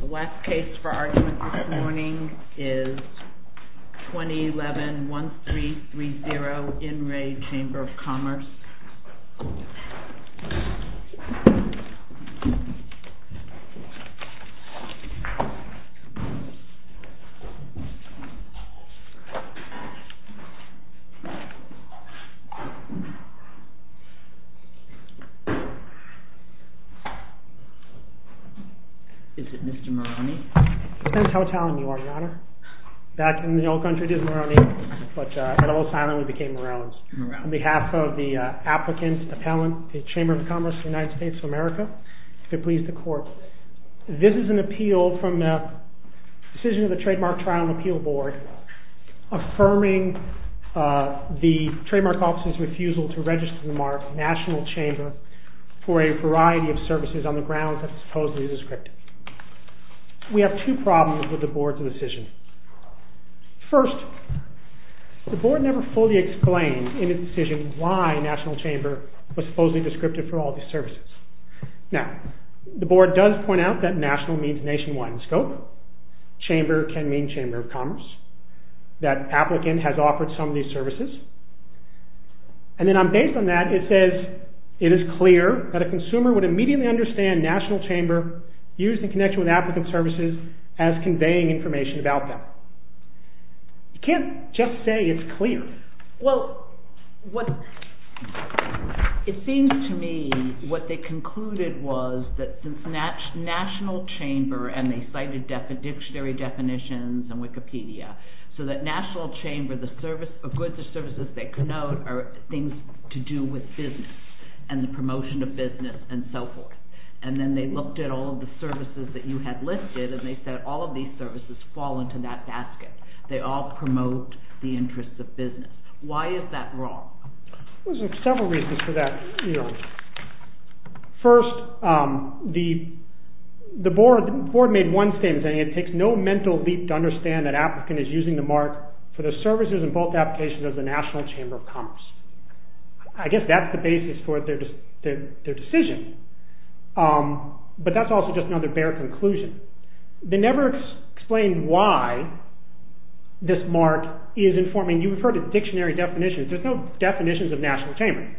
The last case for argument this morning is 2011-1330 IN RE CHAMBER OF COMMERCE Is it Mr. Moroney? Depends how Italian you are, Your Honor. Back in the old country it is Moroney, but in Los Angeles it became Morones. Morones. On behalf of the applicant, appellant, the Chamber of Commerce of the United States of America, if it please the Court, this is an appeal from the decision of the Trademark Trial and Appeal Board affirming the Trademark Office's refusal to register the mark, National Chamber, for a variety of services on the grounds that the mark is supposedly descriptive. We have two problems with the Board's decision. First, the Board never fully explained in its decision why National Chamber was supposedly descriptive for all these services. Now, the Board does point out that National means nationwide in scope. Chamber can mean Chamber of Commerce. That applicant has offered some of these services. And then based on that it says it is clear that a consumer would immediately understand National Chamber, used in connection with applicant services, as conveying information about them. You can't just say it's clear. Well, it seems to me what they concluded was that since National Chamber, and they cited dictionary definitions and Wikipedia, so that National Chamber, the goods or services they connote are things to do with business and the promotion of business and so forth. And then they looked at all of the services that you had listed and they said all of these services fall into that basket. They all promote the interests of business. Why is that wrong? There are several reasons for that. First, the Board made one statement saying it takes no mental leap to understand that applicant is using the mark for the services and both applications of the National Chamber of Commerce. I guess that's the basis for their decision. But that's also just another bare conclusion. They never explained why this mark is informing, you've heard of dictionary definitions, there's no definitions of National Chamber.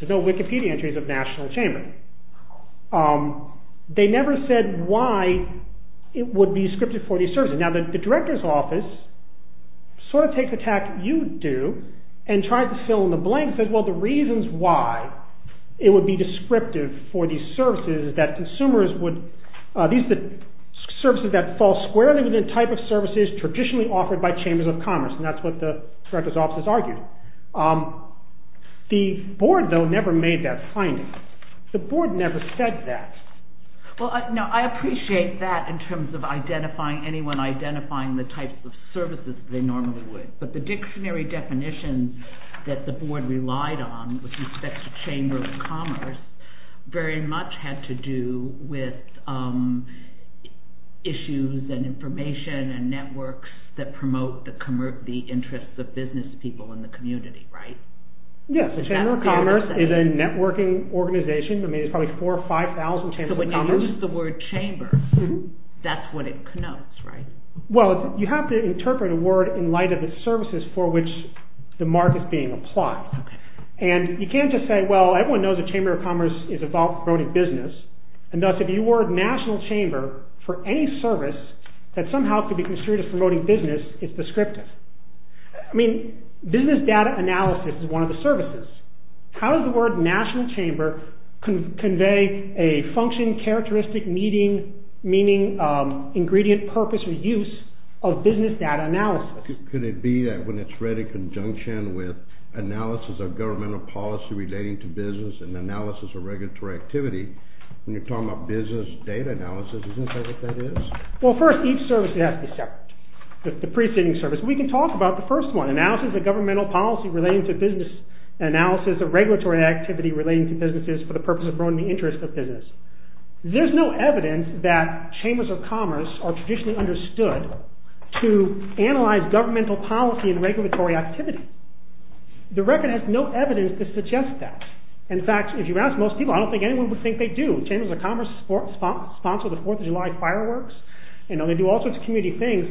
There's no Wikipedia entries of National Chamber. They never said why it would be scripted for these services. Now the Director's Office sort of takes the tack you do and tries to fill in the blank, says well the reasons why it would be descriptive for these services is that consumers would, these are the services that fall squarely within the type of services traditionally offered by Chambers of Commerce and that's what the Director's Office argued. The Board though never made that finding. The Board never said that. I appreciate that in terms of identifying, anyone identifying the types of services they normally would. But the dictionary definitions that the Board relied on with respect to Chamber of Commerce very much had to do with issues and information and networks that promote the interests of business people in the community, right? Yes, the Chamber of Commerce is a networking organization. There's probably 4,000 or 5,000 Chambers of Commerce. that's what it connotes, right? Well, you have to interpret a word in light of the services for which the mark is being applied. And you can't just say well everyone knows the Chamber of Commerce is about promoting business and thus if you were a national chamber for any service that somehow could be construed as promoting business it's descriptive. I mean, business data analysis is one of the services. How does the word national chamber convey a function, characteristic, meaning, ingredient, purpose, or use of business data analysis? Could it be that when it's read in conjunction with analysis of governmental policy relating to business and analysis of regulatory activity when you're talking about business data analysis isn't that what that is? Well first, each service has to be separate. The preceding service. We can talk about the first one. Analysis of governmental policy relating to business analysis of regulatory activity relating to businesses for the purpose of promoting the interest of business. There's no evidence that Chambers of Commerce are traditionally understood to analyze governmental policy and regulatory activity. The record has no evidence to suggest that. In fact, if you ask most people I don't think anyone would think they do. Chambers of Commerce sponsor the Fourth of July fireworks and they do all sorts of community things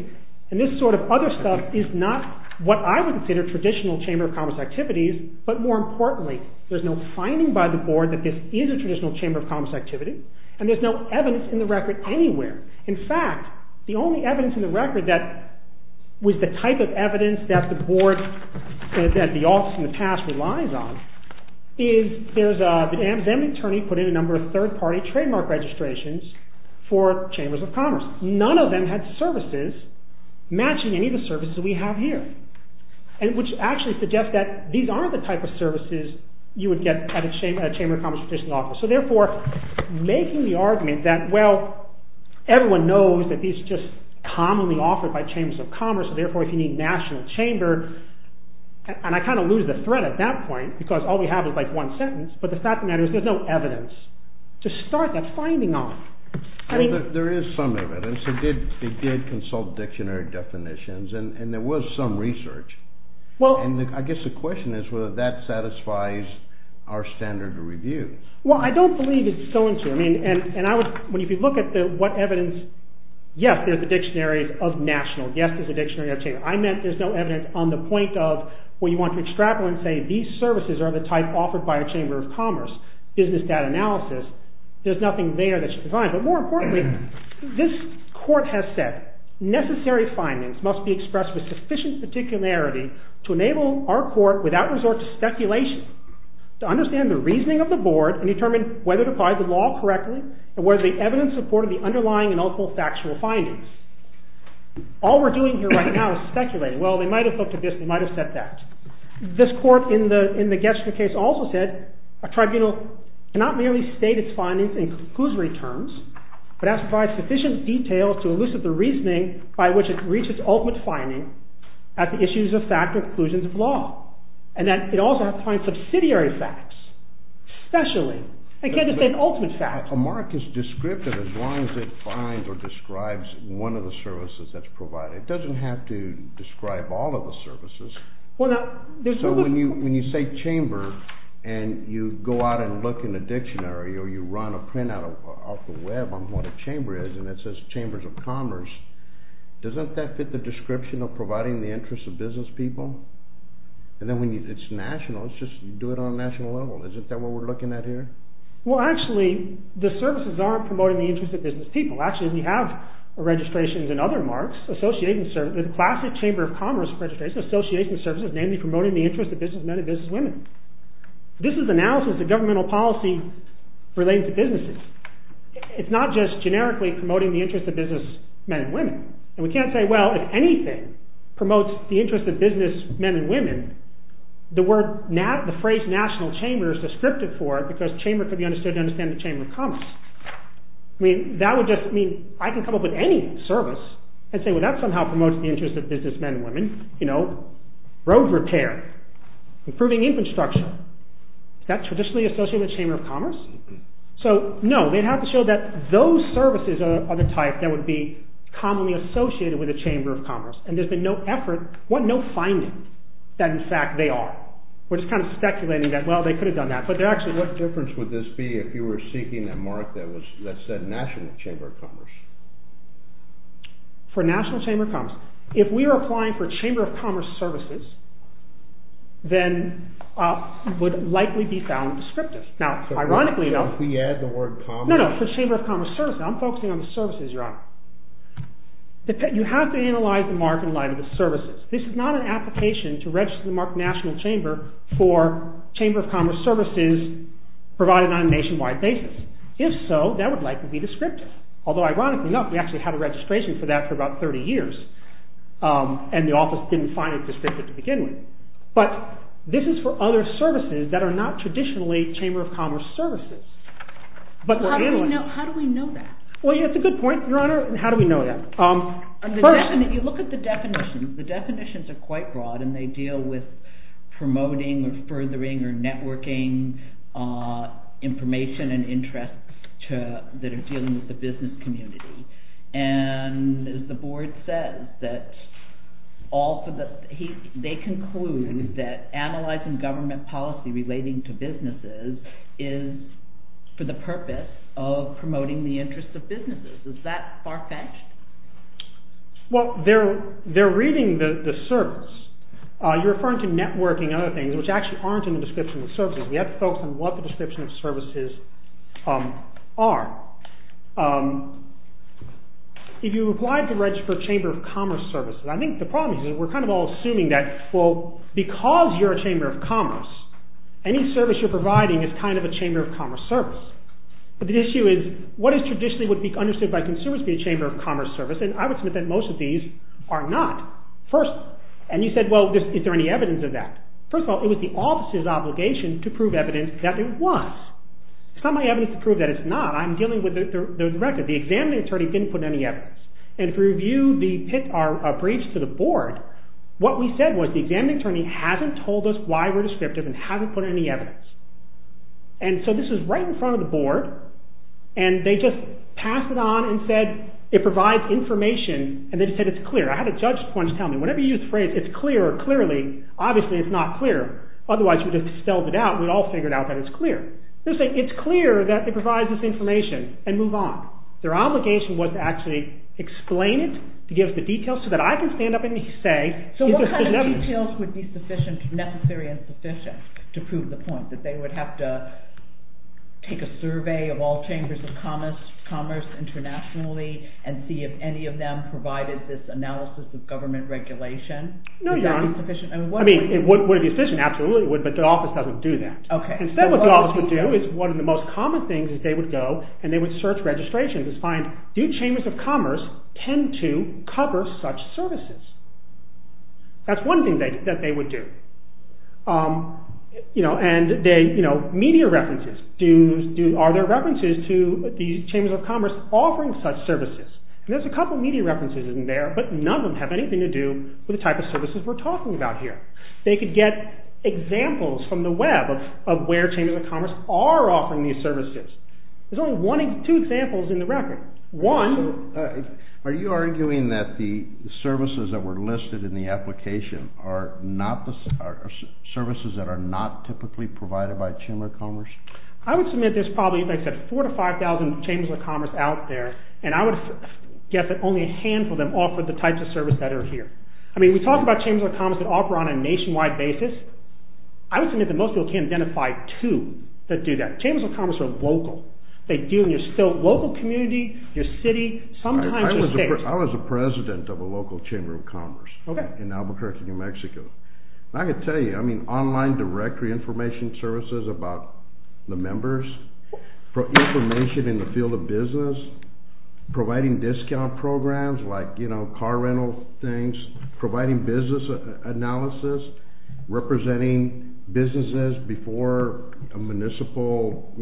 and this sort of other stuff is not what I would consider traditional Chamber of Commerce activities but more importantly there's no finding by the board that this is a traditional Chamber of Commerce activity and there's no evidence in the record anywhere. In fact, the only evidence in the record that was the type of evidence that the board that the office in the past relies on is there's a then the attorney put in a number of third party trademark registrations for Chambers of Commerce. None of them had services matching any of the services we have here and which actually suggests that these aren't the type of services you would get at a Chamber of Commerce traditional office. So therefore making the argument that well everyone knows that these just commonly offered by Chambers of Commerce therefore if you need National Chamber and I kind of lose the thread at that point because all we have is like one sentence but the fact of the matter is there's no evidence to start that finding off. I mean there is some evidence it did consult dictionary definitions and there was some research and I guess the question is whether that satisfies our standard of review. Well, I don't believe it's going to and I would if you look at what evidence yes, there's a dictionary of National yes, there's a dictionary of Chamber. I meant there's no evidence on the point of where you want to extrapolate and say these services are the type offered by a Chamber of Commerce business data analysis there's nothing there that's designed but more importantly this court has said necessary findings must be expressed with sufficient particularity to enable our court without resort to speculation to understand the reasoning of the board and determine whether to apply the law correctly and whether the evidence supported the underlying and ultimate factual findings. All we're doing here right now is speculating well, they might have looked at this they might have said that. This court in the Getzinger case also said a tribunal cannot merely state its findings in conclusory terms but has to provide sufficient details to elucidate the reasoning by which it reaches ultimate finding at the issues of fact or conclusions of law and that it also has to find subsidiary facts especially in the case of the ultimate facts. A mark is descriptive as long as it finds or describes one of the services that's provided. It doesn't have to describe all of the services. So when you say chamber and you go out and look in the dictionary or you run a print off the web on what a chamber is and it says chambers of commerce doesn't that fit the description of providing the interests of business people? And then when it's national it's just do it on a national level. Isn't that what we're looking at here? Well actually the services aren't promoting the interests of business people. Actually we have registrations and other marks associated with classic chamber of commerce registration association services mainly promoting the interest of business men and business women. This is analysis of governmental policy relating to businesses. It's not just generically promoting the interest of business men and women. And we can't say well if anything promotes the interest of business men and women the phrase national chamber is descriptive for it because chamber could be understood to understand the chamber of commerce. That would just mean I can come up with any service and say that somehow promotes the interest of business men and women. Road repair. Improving infrastructure. Is that traditionally associated with chamber of commerce? No. They have to show that those services are the type that would be commonly associated with the chamber of commerce. There's been no effort, no finding that in fact they are. We're just speculating that they could have done that. What difference would this be if you were seeking a mark that said national chamber of commerce? For national chamber of commerce. If we were applying for chamber of commerce, I'm focusing on the services, your honor. You have to analyze the mark in light of the services. This is not an application to register the mark national chamber for chamber of commerce services provided on a nationwide basis. If so, that would likely be descriptive. Although ironically enough we had a registration for that for about 30 years and the office didn't find it descriptive to begin with. But this is for other services that are not traditionally chamber of commerce services. How do we know that? That's a good point, your honor. How do we know that? If you look at the definitions, they are quite broad and deal with promoting or furthering networking information and interests that are dealing with the business community. And as the board says, they conclude that analyzing government policy relating to businesses is for the purpose of promoting the interest of businesses. Is that far-fetched? Well, they are reading the service. You are referring to the description of services. We have to focus on what the description of services are. If you apply for chamber of commerce services, because you are a chamber of commerce, any service is a chamber of commerce service. The issue is what is traditionally understood by consumers as a chamber of commerce service. Is there any evidence of that? It was the office's obligation to prove evidence that it was. The examining attorney did not put any evidence. If you review our briefs to the board, what we said was the attorney has not put any evidence. This is right in front of the board. They said it provides information. It is clear. Whenever you use the phrase it is clear, obviously it is not clear. It is clear that it provides information and move on. Their obligation was to explain it and give the details. What kind of details would be sufficient to prove the point that they would have to take a survey of all chambers of commerce internationally and see if any of them provided this analysis of government regulation? It would be sufficient but the office doesn't do that. One of the most common things is they would search registrations and find chambers of commerce tend to cover such services. That is one thing they would do. Media references. Are there references to the chambers of commerce offering such services? None of them have anything to do with the type of services we are talking about here. They could get examples from the web of where chambers of commerce are offering these services. There are two examples in the record. Are you arguing that the services that were listed in the application are services that are not typically provided by chambers of commerce? probably 4,000 to 5,000 chambers of commerce out there. Only a handful offer the type of services here. We talk about the type of services. I was the president of a local chamber of commerce. I can tell you online directory information services about the members, information in the field of business, providing discount programs like car rental things, providing business analysis, representing businesses before a municipal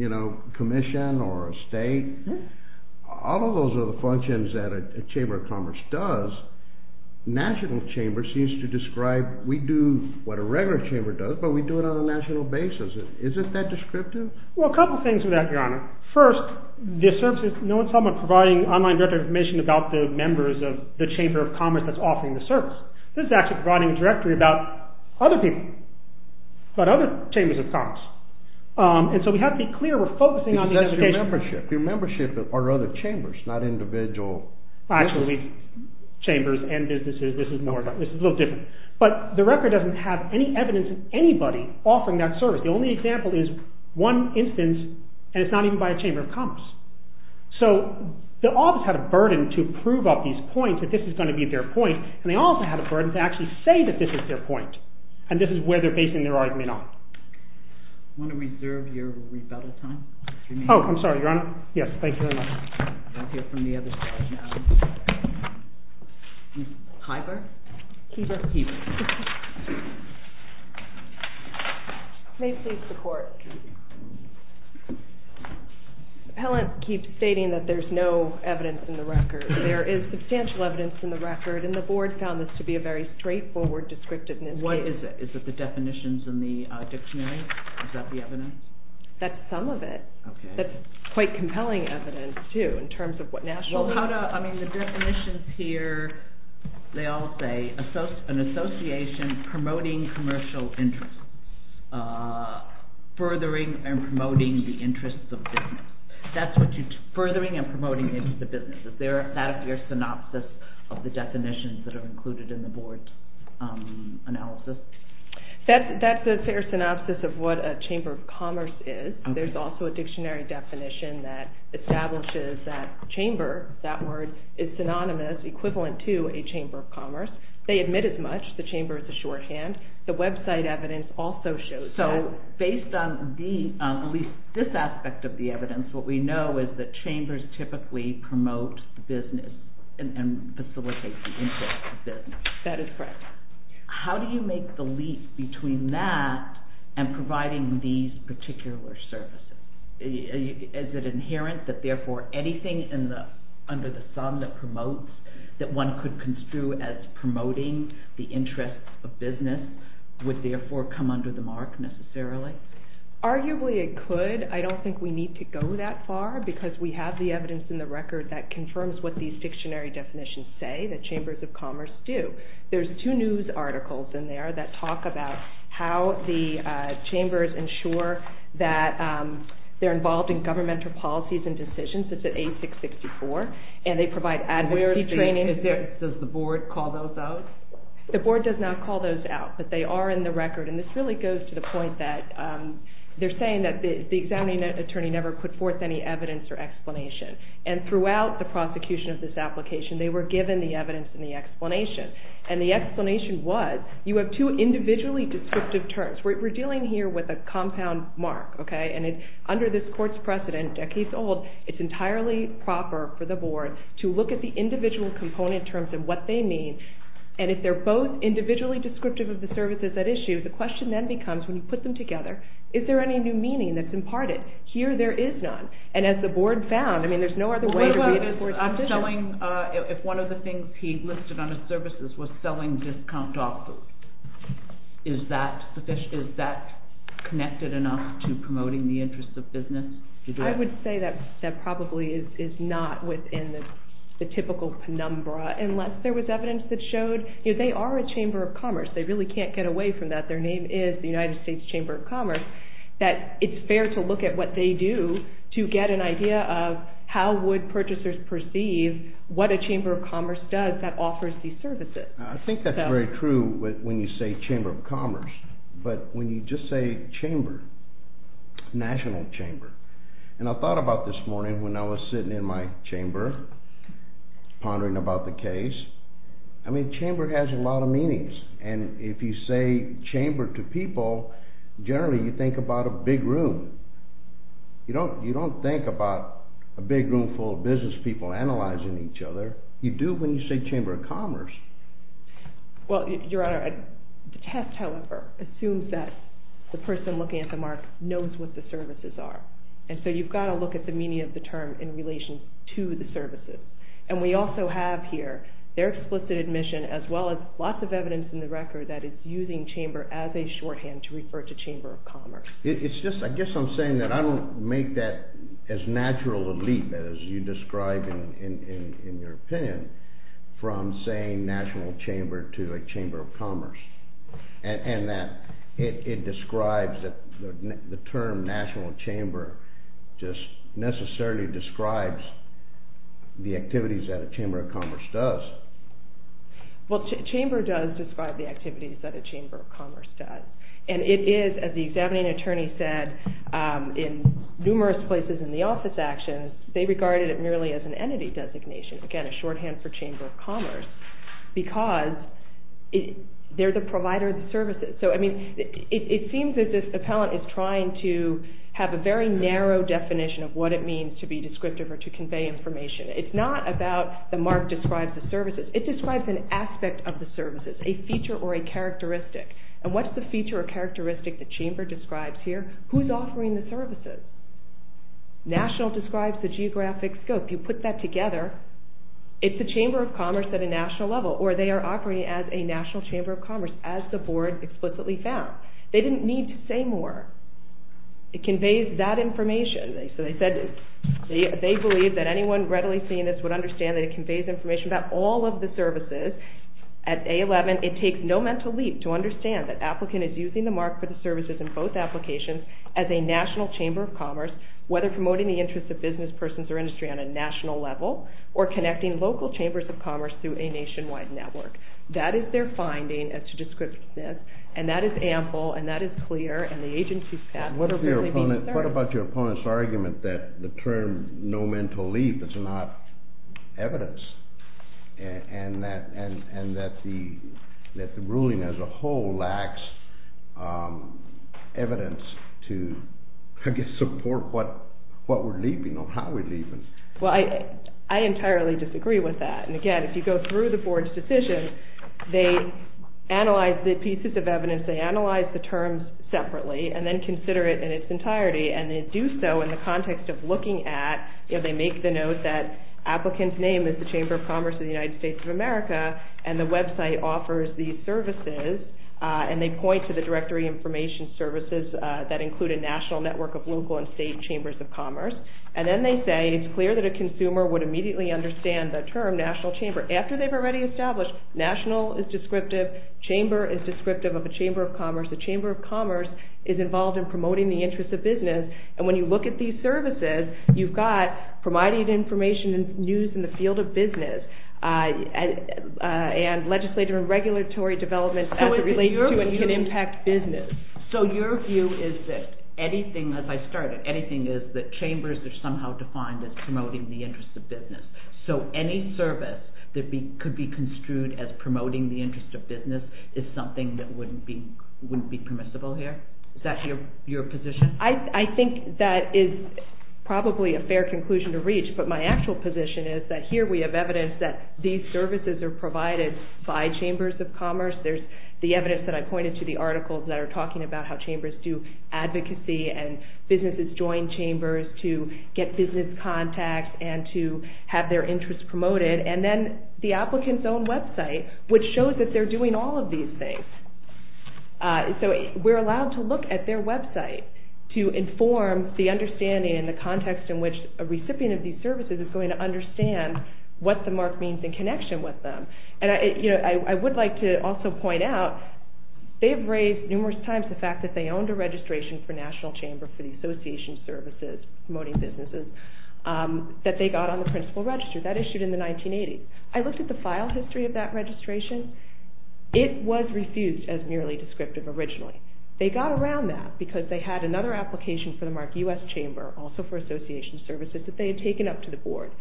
commission or a state. All of those are the functions that a chamber of commerce does. National chamber seems to describe we do what a regular chamber does, but we do it on a national basis. Is it that descriptive? A couple of things. First, providing information about the members of the chamber of commerce that's offering the service. We have to be clear. Your membership are other chambers, not individual chambers. The record doesn't have any evidence of anybody offering that service. The only example is one instance and it's not even by a chamber of commerce. The office had a burden to prove that this is going to be their point. They also had a burden to say this is their point. I want to reserve your rebuttal for that. Thank you very much. May please report. Helen keeps stating there is no evidence in the record. There is substantial evidence in the record and the board found this to be a straightforward description. What is it? Is it the definition commerce? That's quite compelling evidence too. The definitions here, they all say an association promoting commercial interests. Furthering and promoting the interests of business. Is there a synopsis of that? There is a dictionary definition that establishes that chamber is synonymous equivalent to a chamber of commerce. They admit as much. The website evidence also shows that. Based on this aspect of the evidence, chambers typically promote business and facilitate the interest of business. That is correct. How do you make the leap between that and providing these particular services? Is it inherent that anything under the sun that promotes that one could construe as promoting the business commerce? There is evidence in the record that confirms what the dictionary definitions say. There are two news articles that talk about how the chambers ensure that they are involved in decisions. They provide an explanation. Throughout the prosecution they were given the explanation. The explanation was you have two individually descriptive terms. We are dealing with a compound mark. Under this precedent it is entirely proper to look at the definition business commerce. There is no other way to read it. If one of the things he listed was selling discount offers, is that connected enough to promote the interests of business? I would say that is not within the typical penumbra unless there was evidence that showed they are a chamber of commerce. It is fair to look at what they do to get an idea of how would purchasers perceive what a chamber of commerce does. I think that is true when you say chamber of commerce. But when you just say chamber, national chamber, and I thought about this morning when I was sitting in my chamber pondering about the case, chamber has a lot of meanings. If you say chamber to people, generally you think about a big room. You don't think about a big room full of business people analyzing each other. You do when you say chamber of commerce. The test assumes that the person looking at the mark knows what the services are. You have to look at the meaning of the term in relation to the services. We also have here their explicit admission as well as lots of other things that describe in your opinion from saying national chamber to a chamber of commerce. And that it describes the term national chamber just necessarily describes the activities that a chamber of commerce does. Well, chamber does describe the activities that a chamber of commerce does. And it is, as the examining attorney said in numerous places in the office actions, they regarded it merely as an entity designation. Again, a shorthand for chamber of commerce. Because they're the provider of services. So, I mean, it seems that this appellant is trying to have a very narrow definition of what it is. if you look at the characteristic that chamber describes here, who's offering the services? National describes the geographic scope. You put that together, it's a chamber of commerce at a national level. Or they are operating as a national chamber of commerce. Whether promoting the interest of business persons or industry on a national level or connecting local chambers of commerce through a nationwide network. That is their finding. And that is ample and that is clear. And the agency not have sufficient evidence to support what we're leaving or how we're leaving. I entirely disagree with that. If you go through the decision, they analyze the pieces of evidence, analyze the terms separately and consider it in its entirety and do so in the context of looking at, they make the note that applicant's name is the chamber of commerce of the United States of America and the website offers these services and they point to the directory information services that include a national network of local and state chambers of commerce. And then they say it's clear that a consumer would immediately understand the term national chamber. After they've already established national is descriptive, chamber is descriptive of a chamber of commerce. The chamber of commerce is involved in promoting the interest of business and when you look at these services, you've got providing information and news in the field of business and you've got legislative and regulatory development that can impact business. So your view is that anything as I started, anything is that chambers are somehow defined as promoting the interest of business. So any service that could be construed as promoting the interest of business is something that wouldn't be permissible here? Is that your position? I think that is probably a fair conclusion to reach but my actual position is that here we have evidence that these services are provided by chambers of commerce. There's the evidence that I pointed to the articles that are talking about how chambers do advocacy and businesses join chambers to get business contacts and to have their interest promoted and then the applicant's own website which shows that they're doing all of these things. So we're allowed to look at their website to inform the understanding and the context in which a recipient of these services is going to understand what the mark means in connection with them. And I would like to also point out they have raised numerous times the fact that they owned a registration for national chamber for the association services they were promoting businesses that they got on the principal register that issued in the 1980s. I looked at the file history of that registration. It was refused as merely descriptive originally. They got around that because they had another application for the mark U.S. chamber also for association services that they had taken up to the board.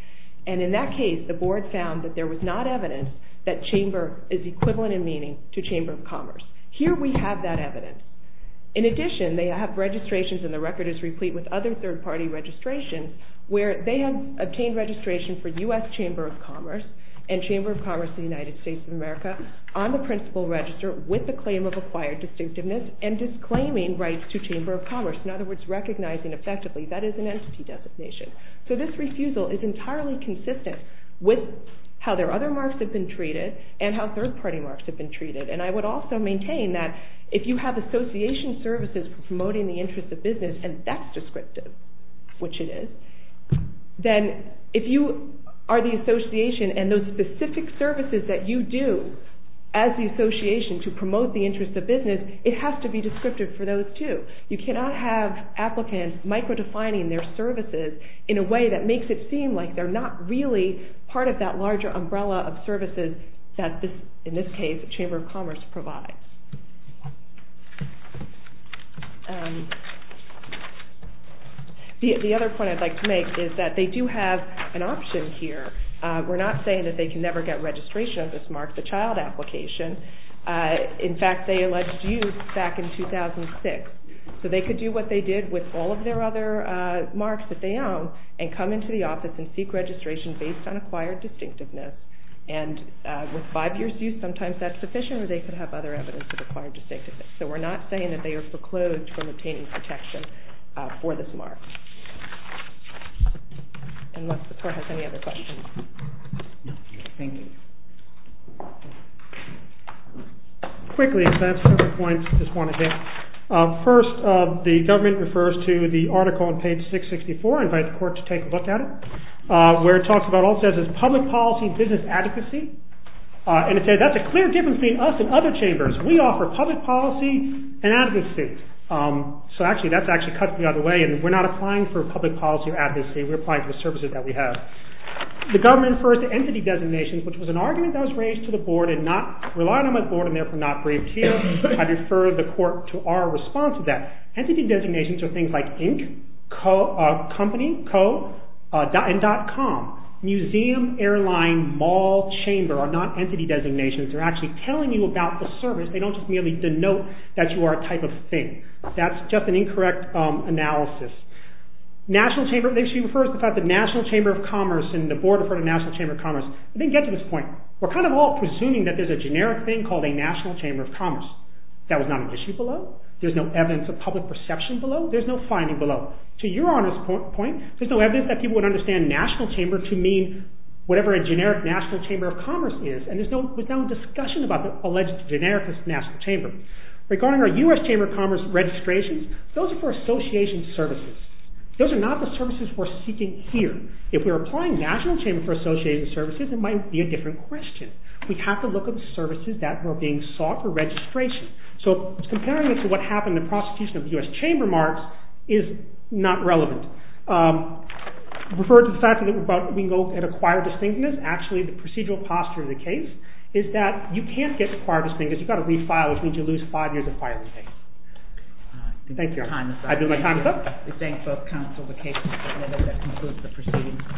In that case the board found there was not evidence that chamber is equivalent in meaning to chamber of commerce. Here we have that evidence. In addition they have registrations and the record is replete with other third party registrations where they obtained registration for U.S. chamber of commerce and that is an entity designation. This refusal is entirely consistent with how their other marks have been treated and how third party marks have been treated. I would also maintain if you have association services promoting the interest of business and that's descriptive which it is, if you are the association and those specific services that you do as the association to promote the interest of business it has to be descriptive for those too. You cannot have applicants micro defining their services in a way that makes it seem like they are not part of the They are a larger umbrella of services that the chamber of commerce provides. The other point I would like to make is that they do have an option here. We are not saying they can never get registration of this mark. In fact, they alleged use back in 2006. They could do what they did with all of their other marks and come into the office and seek registration based on acquired distinctiveness. We are not saying they are foreclosed from obtaining protection for this mark. that's all I have to say. Thank you. Unless the clerk has any other questions. Thank you. Quickly, a couple of points I want to hit. First, the government refers to the article on page 664. I invite the court to look at it. It says public policy and business services. The government refers to entity designations. I refer the court to our response to that. Entity designations are things like ink, company, and dot com. Museum, airline, mall, chamber are not entity designations. They don't denote that you are a type of thing. That is just an incorrect analysis. National chamber of commerce, we are presuming there is a generic thing. There is no evidence of public perception. There is no finding below. There is no evidence that people would understand national chamber to mean whatever a generic national chamber of commerce is. There is no discussion about the generic national chamber. Those are for association services. Those are not the services we are seeking here. We have to look at the services that are being sought for registration. Comparing this to the general chamber, the procedural posture of the case is that you can't get required to sign. You have to refile. I do my time is up. Thank you.